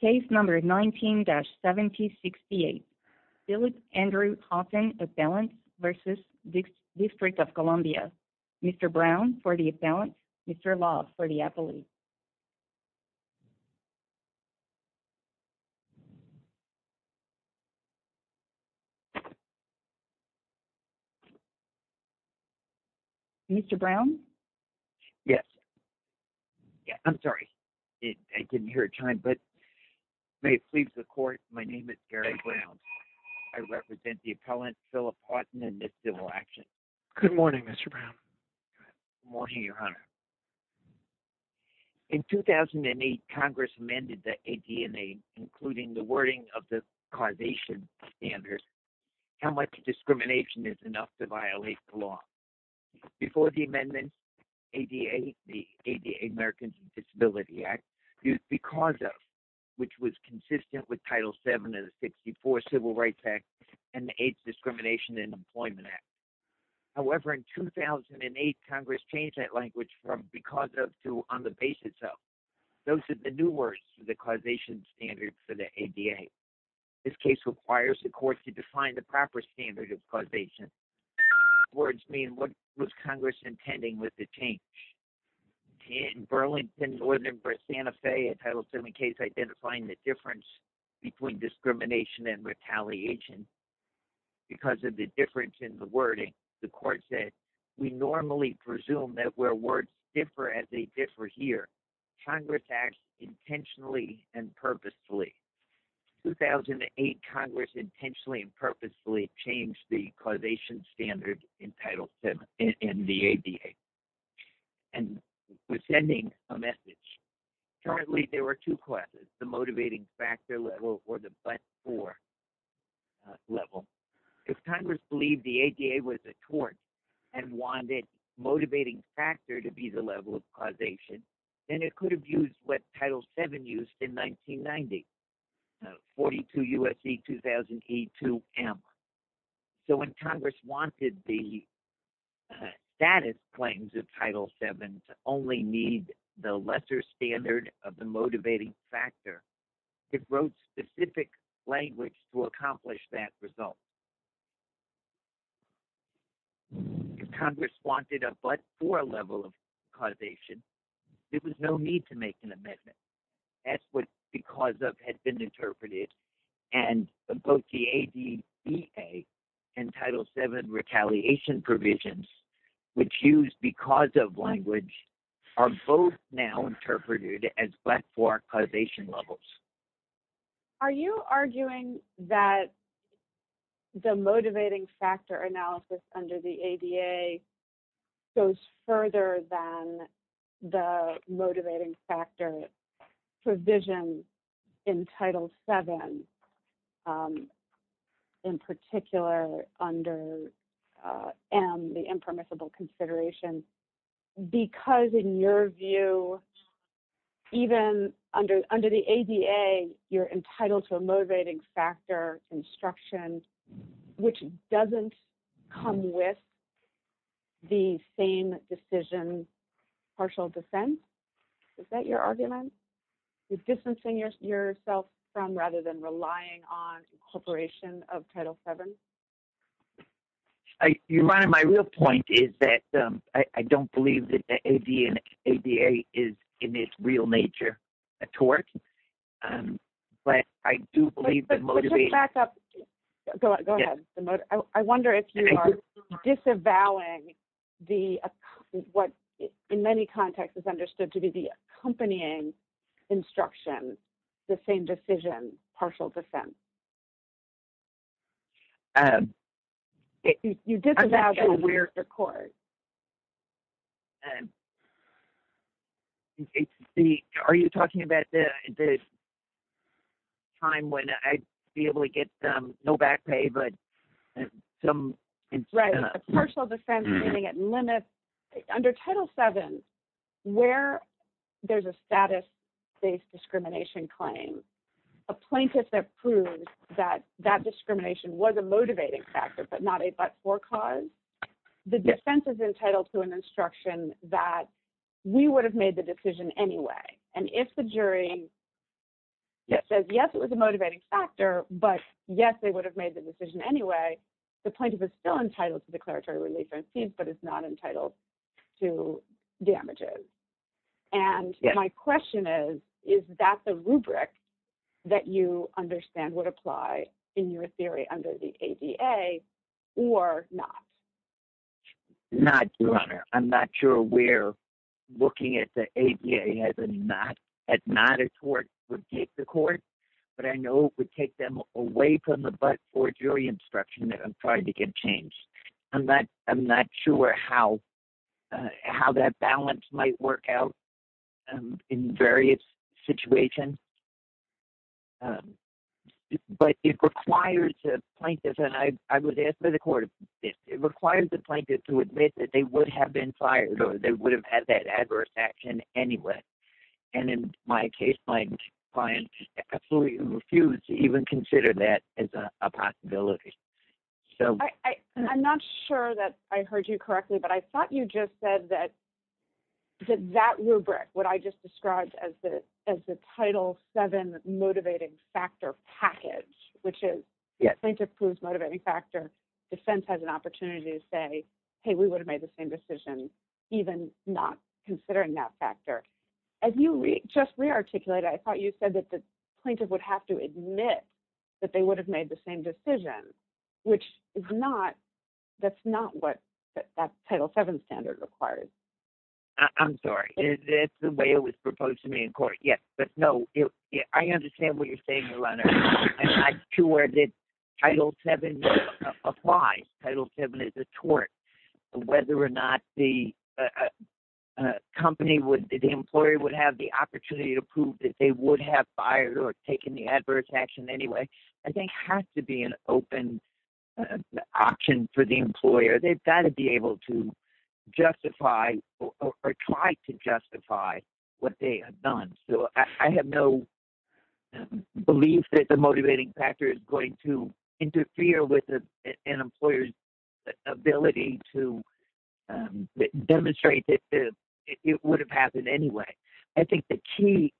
Case number 19-7068. Philip Andrew Haughton, appellant v. District of Columbia. Mr. Brown, for the appellant. Mr. Love, for the appellate. Mr. Brown? Yes. I'm sorry. I didn't hear your time, but may it please the court, my name is Gary Brown. I represent the appellant Philip Haughton in this civil action. Good morning, Mr. Brown. Good morning, your honor. In 2008, Congress amended the ADA, including the wording of the causation standards, how much discrimination is enough to violate the law. Before the amendment, ADA, the ADA Americans with Disabilities Act, used because of, which was consistent with Title 7 of the 64 Civil Rights Act and the AIDS Discrimination and Employment Act. However, in 2008, Congress changed that language from because of to on the basis of. Those are the new words for the causation standards for the ADA. This case requires the court to define the proper standard of causation. These words mean what was Congress intending with the change. In Burlington, northern Santa Fe, a Title 7 case identifying the difference between discrimination and retaliation because of the difference in the wording, the court said, we normally presume that where words differ as they differ here. Congress acts intentionally and purposefully. In 2008, Congress intentionally and purposefully changed the causation standard in the ADA. And was sending a message. Currently, there were two classes, the motivating factor level or the but-for level. If Congress believed the ADA was a tort and wanted motivating factor to be the level of causation, then it could have used what Title 7 used in 1990, 42 U.S.C. 2000 E2M. So when Congress wanted the status claims of Title 7 to only need the lesser standard of the motivating factor, it wrote specific language to accomplish that result. If Congress wanted a but-for level of causation, there was no need to make an amendment. That's what because of had been interpreted. And both the ADA and Title 7 retaliation provisions, which use because of language, are both now interpreted as but-for causation levels. Are you arguing that the motivating factor analysis under the ADA goes further than the motivating factor provision in Title 7 in particular under M, the impermissible consideration? Because in your view, even under the ADA, you're entitled to a motivating factor instruction, which doesn't come with the same decision, partial defense? Is that your argument? You're distancing yourself from rather than relying on incorporation of Title 7? Your Honor, my real point is that I don't believe that the ADA is in its real nature a tort, but I do believe that motivating… You disavow the court. Are you talking about the time when I'd be able to get no back pay, but some… Under Title 7, where there's a status-based discrimination claim, a plaintiff that proves that that discrimination was a motivating factor, but not a but-for cause, the defense is entitled to an instruction that we would have made the decision anyway. And if the jury says, yes, it was a motivating factor, but yes, they would have made the decision anyway, the plaintiff is still entitled to declaratory relief or incident, but is not entitled to damages. And my question is, is that the rubric that you understand would apply in your theory under the ADA or not? Not, Your Honor. I'm not sure where looking at the ADA as not a tort would take the court, but I know it would take them away from the but-for jury instruction that I'm trying to get changed. I'm not sure how that balance might work out in various situations. But it requires the plaintiff, and I would ask for the court, it requires the plaintiff to admit that they would have been fired or they would have had that adverse action anyway. And in my case, my client absolutely refused to even consider that as a possibility. I'm not sure that I heard you correctly, but I thought you just said that that rubric, what I just described as the Title VII motivating factor package, which is plaintiff proves motivating factor, defense has an opportunity to say, hey, we would have made the same decision, even not considering that factor. As you just re-articulated, I thought you said that the plaintiff would have to admit that they would have made the same decision, which is not, that's not what that Title VII standard requires. I'm sorry, that's the way it was proposed to me in court, yes. But no, I understand what you're saying, Your Honor. Title VII applies. Title VII is a tort. Whether or not the company would, the employer would have the opportunity to prove that they would have fired or taken the adverse action anyway, I think has to be an open option for the employer. They've got to be able to justify or try to justify what they have done. So I have no belief that the motivating factor is going to interfere with an employer's ability to demonstrate that it would have happened anyway. I think the key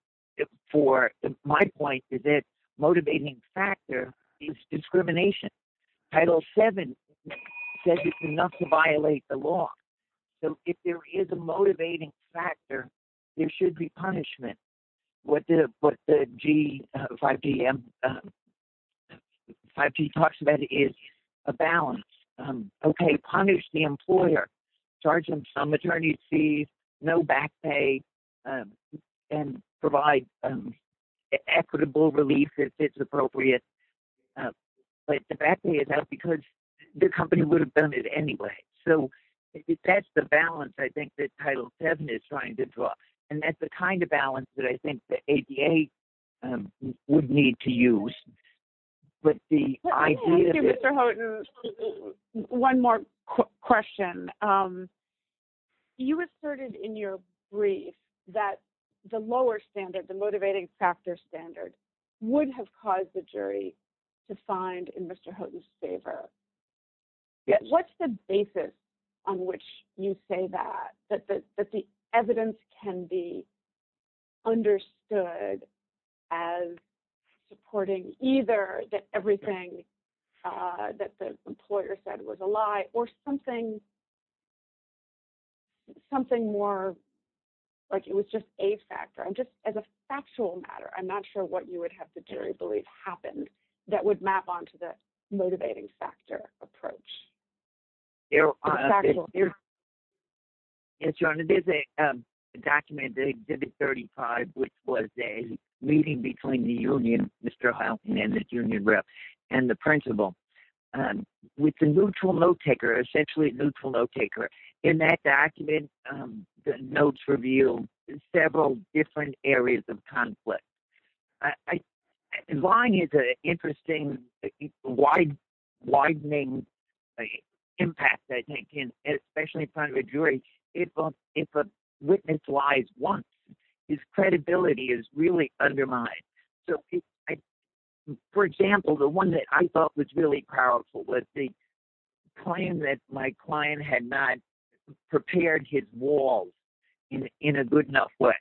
for my point is that motivating factor is discrimination. Title VII says it's enough to violate the law. So if there is a motivating factor, there should be punishment. What the G, 5G talks about is a balance. Okay, punish the employer, charge them some attorney's fees, no back pay, and provide equitable relief if it's appropriate. But the back pay is out because the company would have done it anyway. So that's the balance I think that Title VII is trying to draw. And that's the kind of balance that I think the ADA would need to use. Thank you, Mr. Houghton. One more question. You asserted in your brief that the lower standard, the motivating factor standard would have caused the jury to find in Mr. Houghton's favor. What's the basis on which you say that, that the evidence can be understood as supporting either that everything that the employer said was a lie or something more like it was just a factor? As a factual matter, I'm not sure what you would have the jury believe happened that would map onto the motivating factor approach. There is a document, Exhibit 35, which was a meeting between the union, Mr. Houghton and the union rep and the principal with a neutral note taker, essentially a neutral note taker. In that document, the notes reveal several different areas of conflict. Lying is an interesting, widening impact, I think, especially in front of a jury, if a witness lies once, his credibility is really undermined. For example, the one that I thought was really powerful was the claim that my client had not prepared his wall in a good enough way.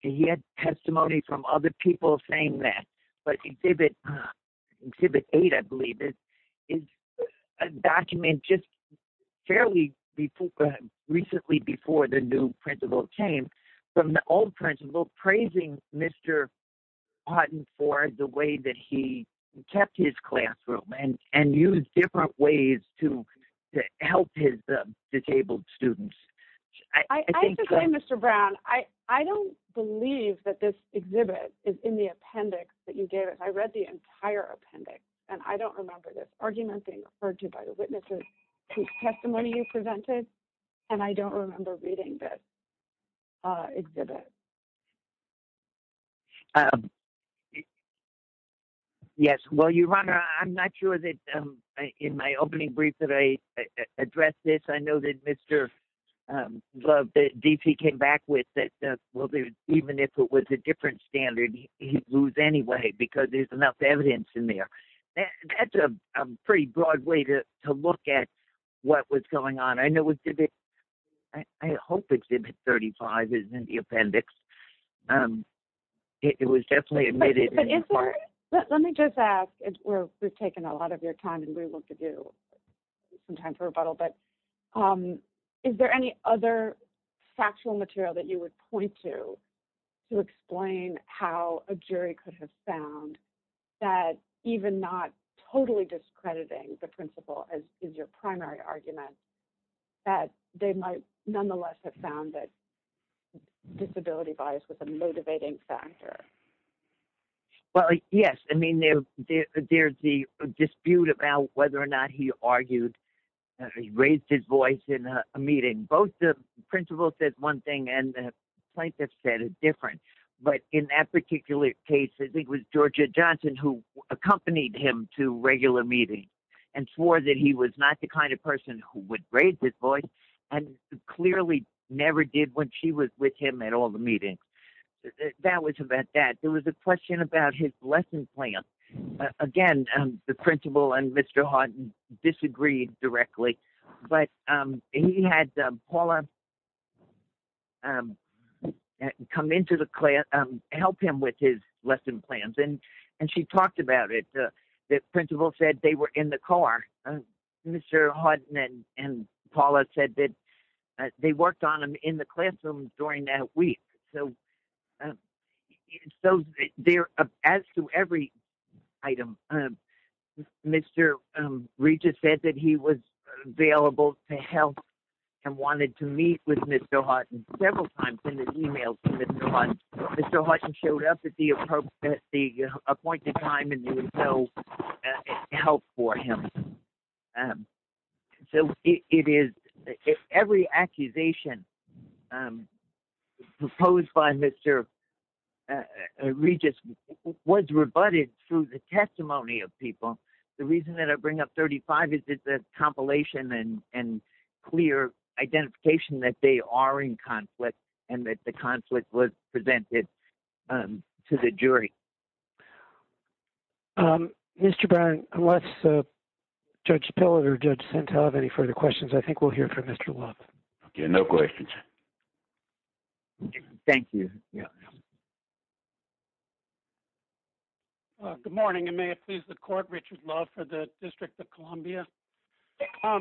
He had testimony from other people saying that. Exhibit 8, I believe, is a document just fairly recently before the new principal came from the old principal praising Mr. Houghton for the way that he kept his classroom and used different ways to help his disabled students. I have to say, Mr. Brown, I don't believe that this exhibit is in the appendix that you gave us. I read the entire appendix, and I don't remember this argument being referred to by the witnesses whose testimony you presented, and I don't remember reading this exhibit. Yes, well, your honor, I'm not sure that in my opening brief that I addressed this. I know that Mr. Love, that D.P. came back with that. Well, even if it was a different standard, he'd lose anyway, because there's enough evidence in there. That's a pretty broad way to look at what was going on. I hope exhibit 35 is in the appendix. It was definitely admitted. Let me just ask, we've taken a lot of your time, and we want to do some time for rebuttal, but is there any other factual material that you would point to to explain how a jury could have found that even not totally discrediting the principal as your primary argument, that they might nonetheless have found that disability bias was a motivating factor? Well, yes. I mean, there's the dispute about whether or not he raised his voice in a meeting. Both the principal said one thing, and the plaintiff said a different, but in that particular case, I think it was Georgia Johnson who accompanied him to regular meetings and swore that he was not the kind of person who would raise his voice and clearly never did when she was with him at all the meetings. That was about that. There was a question about his lesson plan. Again, the principal and Mr. Hardin disagreed directly, but he had Paula come into the class, help him with his lesson plans, and she talked about it. The principal said they were in the car. Mr. Hardin and Paula said that they worked on him in the classroom during that week. So, as to every item, Mr. Regis said that he was available to help and wanted to meet with Mr. Hardin several times in his emails with Mr. Hardin. Mr. Hardin showed up at the appointed time, and there was no help for him. So, every accusation proposed by Mr. Regis was rebutted through the testimony of people. The reason that I bring up thirty-five is it's a compilation and clear identification that they are in conflict and that the conflict was presented to the jury. Mr. Brown, unless Judge Pillard or Judge Sental have any further questions, I think we'll hear from Mr. Love. Okay, no questions. Thank you. Yes. Good morning, and may it please the court, Richard Love for the District of Columbia. Okay. And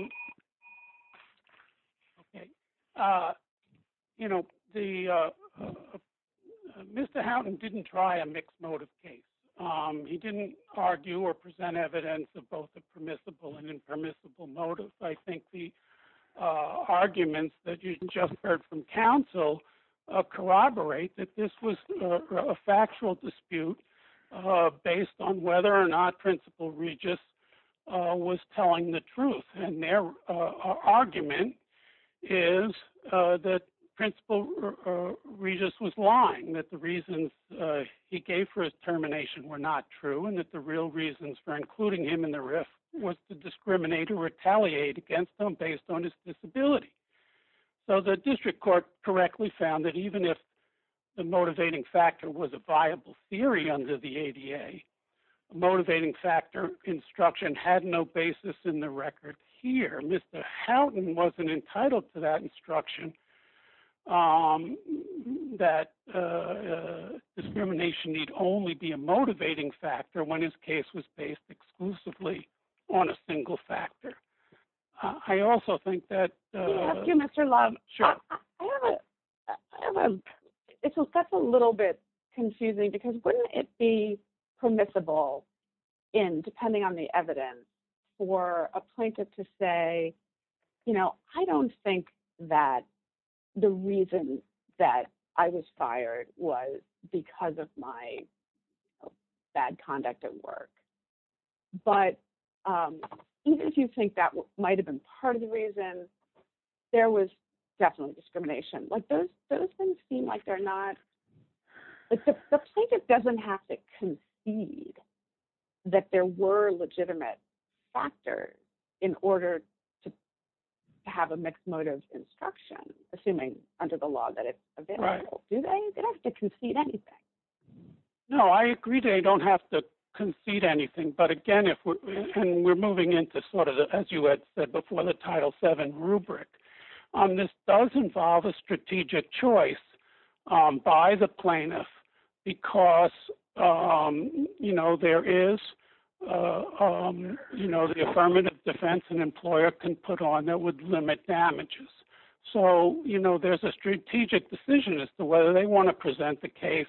their argument is that Principal Regis was lying, that the reasons he gave for his termination were not true, and that the real reasons for including him in the RIF was to discriminate or retaliate against him based on his disability. So, the district court correctly found that even if the motivating factor was a viable theory under the ADA, the motivating factor instruction had no basis in the record here. Mr. Houghton wasn't entitled to that instruction that discrimination need only be a motivating factor when his case was based exclusively on a single factor. I also think that… Can I ask you, Mr. Love? Sure. That's a little bit confusing because wouldn't it be permissible, depending on the evidence, for a plaintiff to say, you know, I don't think that the reason that I was fired was because of my bad conduct at work. But even if you think that might have been part of the reason, there was definitely discrimination. Like, those things seem like they're not… Like, the plaintiff doesn't have to concede that there were legitimate factors in order to have a mixed motive instruction, assuming under the law that it's available. Right. Do they? They don't have to concede anything. No, I agree they don't have to concede anything. But again, we're moving into sort of, as you had said before, the Title VII rubric. This does involve a strategic choice by the plaintiff because, you know, there is, you know, the affirmative defense an employer can put on that would limit damages. So, you know, there's a strategic decision as to whether they want to present the case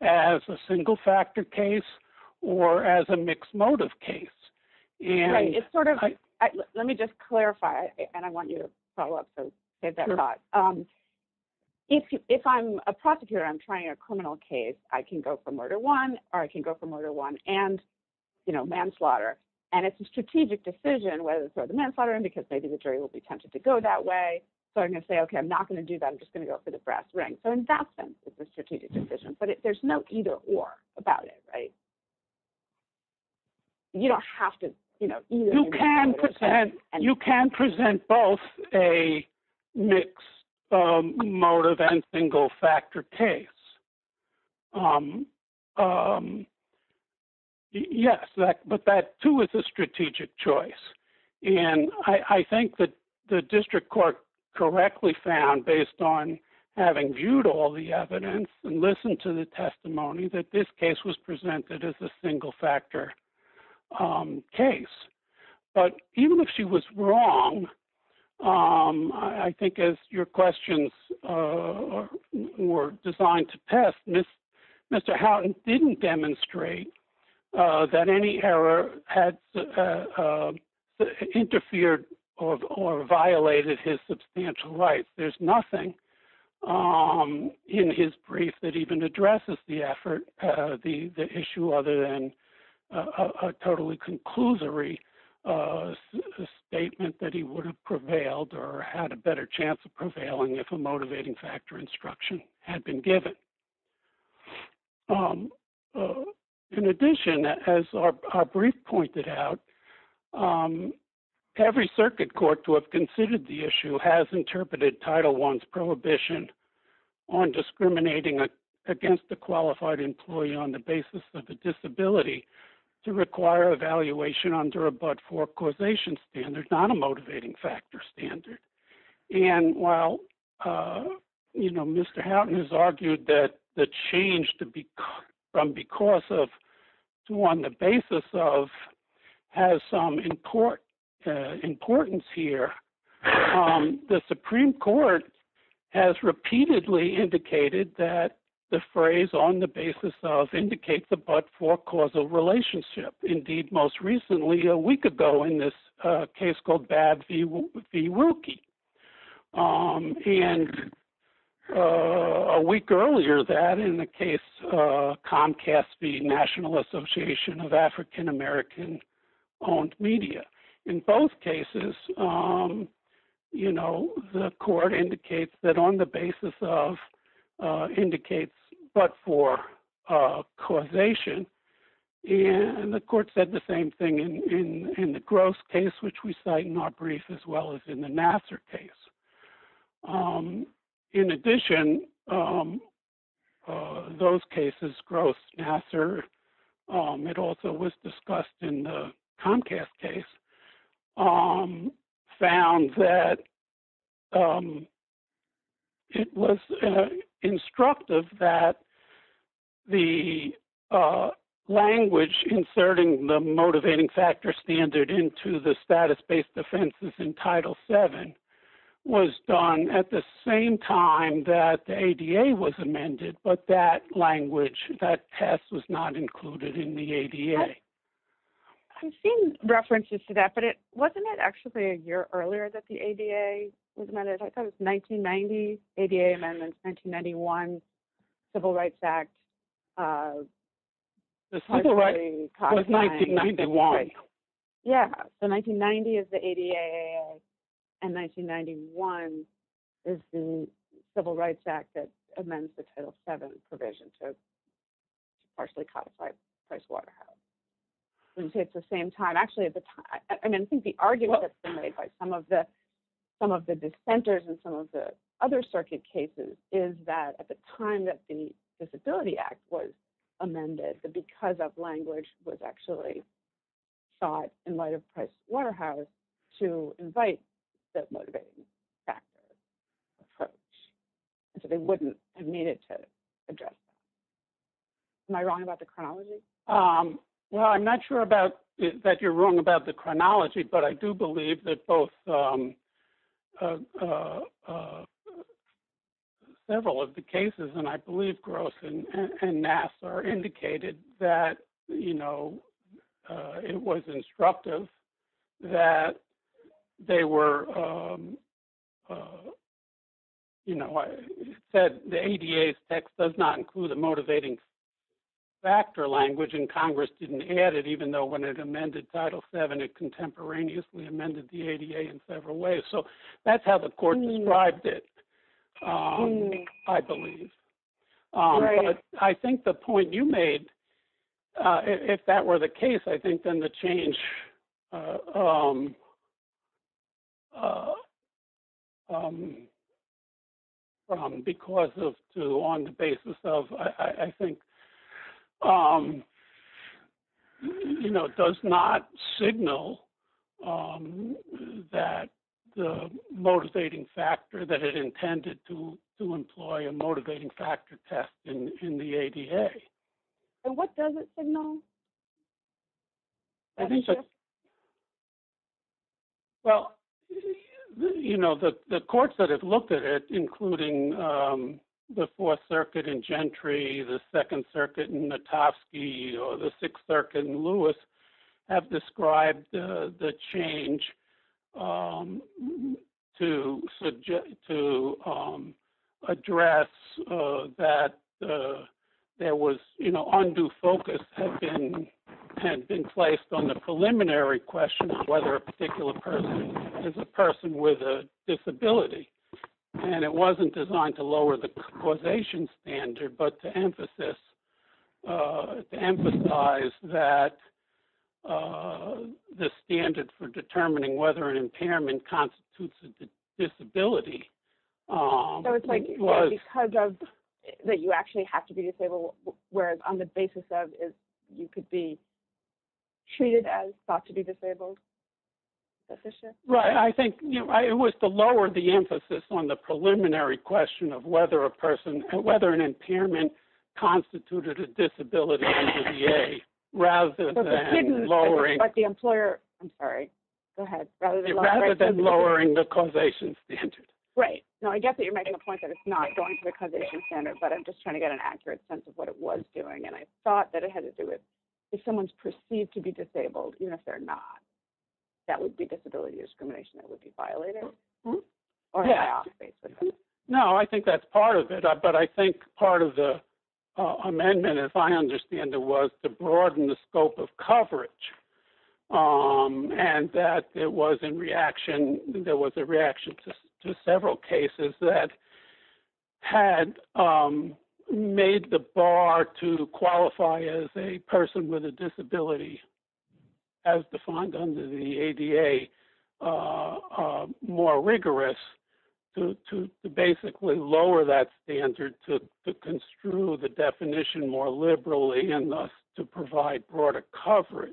as a single factor case or as a mixed motive case. Right. It's sort of… Let me just clarify, and I want you to follow up and say that thought. So I'm going to say, okay, I'm not going to do that. I'm just going to go for the brass ring. So in that sense, it's a strategic decision, but there's no either or about it, right? You don't have to, you know… You can present both a mixed motive and single factor case. Yes, but that too is a strategic choice. And I think that the district court correctly found, based on having viewed all the evidence and listened to the testimony, that this case was presented as a single factor case. But even if she was wrong, I think as your questions were designed to test, Mr. Houghton didn't demonstrate that any error had interfered or violated his substantial rights. There's nothing in his brief that even addresses the effort, the issue other than a totally conclusory statement that he would have prevailed or had a better chance of prevailing if a motivating factor instruction had been given. In addition, as our brief pointed out, every circuit court to have considered the issue has interpreted Title I's prohibition on discriminating against a qualified employee on the basis of a disability to require evaluation under a but-for-causation standard, not a motivating factor standard. And while Mr. Houghton has argued that the change from because of to on the basis of has some importance here, the Supreme Court has repeatedly indicated that the phrase on the basis of indicates a but-for-causal relationship. Indeed, most recently, a week ago in this case called BAD v. Wilkie, and a week earlier that in the case Comcast v. National Association of African American-Owned Media. In both cases, the court indicates that on the basis of indicates but-for-causation, and the court said the same thing in the Gross case, which we cite in our brief, as well as in the Nassar case. In addition, those cases, Gross, Nassar, it also was discussed in the Comcast case, found that it was instructive that the language inserting the motivating factor standard into the status-based offenses in Title VII was done at the same time that the ADA was amended, but that language, that test was not included in the ADA. I've seen references to that, but wasn't it actually a year earlier that the ADA was amended? I thought it was 1990, ADA amendments, 1991, Civil Rights Act. Civil Rights was 1991. Yeah, so 1990 is the ADA, and 1991 is the Civil Rights Act that amends the Title VII provision to partially codify Pricewaterhouse. I think the argument that's been made by some of the dissenters in some of the other circuit cases is that at the time that the Disability Act was amended, that because of language was actually sought in light of Pricewaterhouse to invite the motivating factors approach. So they wouldn't have needed to address that. Am I wrong about the chronology? Well, I'm not sure that you're wrong about the chronology, but I do believe that both several of the cases, and I believe Gross and Nassar, indicated that it was instructive that they were, you know, said the ADA's text does not include the motivating factor language, and Congress didn't add it, even though when it amended Title VII, it contemporaneously amended the ADA in several ways. So that's how the court described it, I believe. I think the point you made, if that were the case, I think then the change, from because of to on the basis of, I think, you know, does not signal that the motivating factor that it intended to employ a motivating factor test in the ADA. And what does it signal? Well, you know, the courts that have looked at it, including the Fourth Circuit in Gentry, the Second Circuit in Notofsky, or the Sixth Circuit in Lewis, have described the change to address that there was, you know, undue focus had been placed on the preliminary question of whether a particular person is a person with a disability. And it wasn't designed to lower the causation standard, but to emphasize that the standard for determining whether an impairment constitutes a disability. So it's like because of that you actually have to be disabled, whereas on the basis of you could be treated as thought to be disabled. Right. I think it was to lower the emphasis on the preliminary question of whether a person, whether an impairment constituted a disability in the ADA rather than lowering the causation standard. Right. Now, I guess that you're making a point that it's not going to the causation standard, but I'm just trying to get an accurate sense of what it was doing. And I thought that it had to do with if someone's perceived to be disabled, even if they're not, that would be disability discrimination that would be violated? No, I think that's part of it. But I think part of the amendment, if I understand it, was to broaden the scope of coverage. And that there was a reaction to several cases that had made the bar to qualify as a person with a disability, as defined under the ADA, more rigorous to basically lower that standard to construe the definition more liberally and thus to provide broader coverage.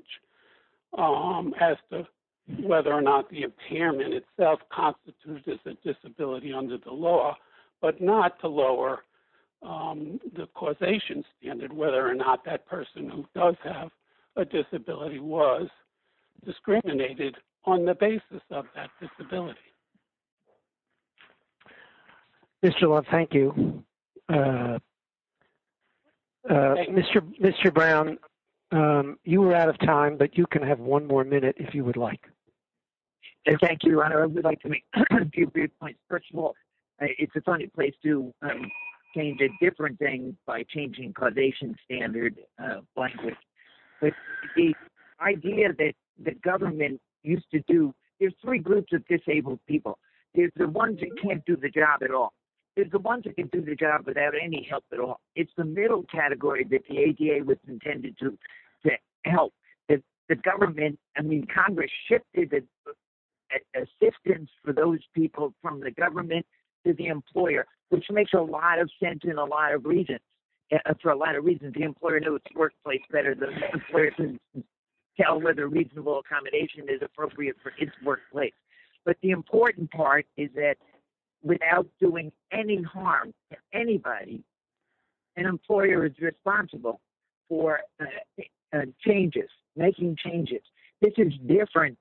As to whether or not the impairment itself constitutes a disability under the law, but not to lower the causation standard, whether or not that person who does have a disability was discriminated on the basis of that disability. Mr. Love, thank you. Mr. Brown, you were out of time, but you can have one more minute if you would like. Thank you. I would like to make a few points. First of all, it's a funny place to change a different thing by changing causation standard language. The idea that the government used to do, there's three groups of disabled people. There's the ones that can't do the job at all. There's the ones that can do the job without any help at all. It's the middle category that the ADA was intended to help. The government, I mean, Congress shifted assistance for those people from the government to the employer, which makes a lot of sense in a lot of reasons. For a lot of reasons, the employer knows its workplace better than the employer can tell whether reasonable accommodation is appropriate for its workplace. But the important part is that without doing any harm to anybody, an employer is responsible for changes, making changes. This is different.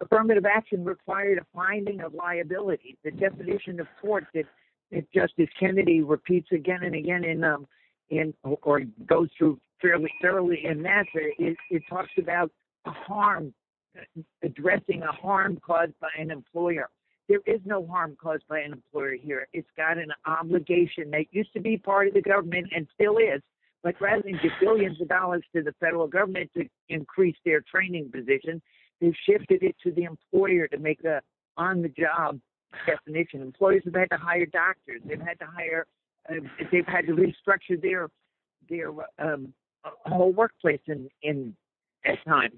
Affirmative action required a finding of liability. The definition of court that Justice Kennedy repeats again and again, or goes through fairly thoroughly in that, it talks about addressing a harm caused by an employer. There is no harm caused by an employer here. It's got an obligation that used to be part of the government and still is, but rather than give billions of dollars to the federal government to increase their training position, they've shifted it to the employer to make the on-the-job definition. Employees have had to hire doctors. They've had to hire – they've had to restructure their whole workplace at times.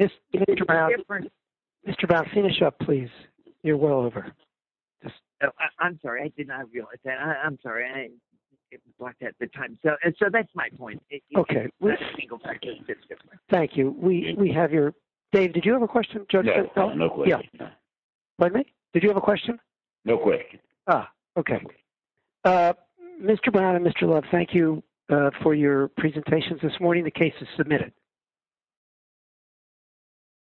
Mr. Brown, Mr. Brown, finish up, please. You're well over. I'm sorry. I did not realize that. I'm sorry. It was blocked at the time. So that's my point. Okay. Thank you. We have your – Dave, did you have a question? No. Pardon me? Did you have a question? No question. Okay. Mr. Brown and Mr. Love, thank you for your presentations this morning. The case is submitted. Thank you.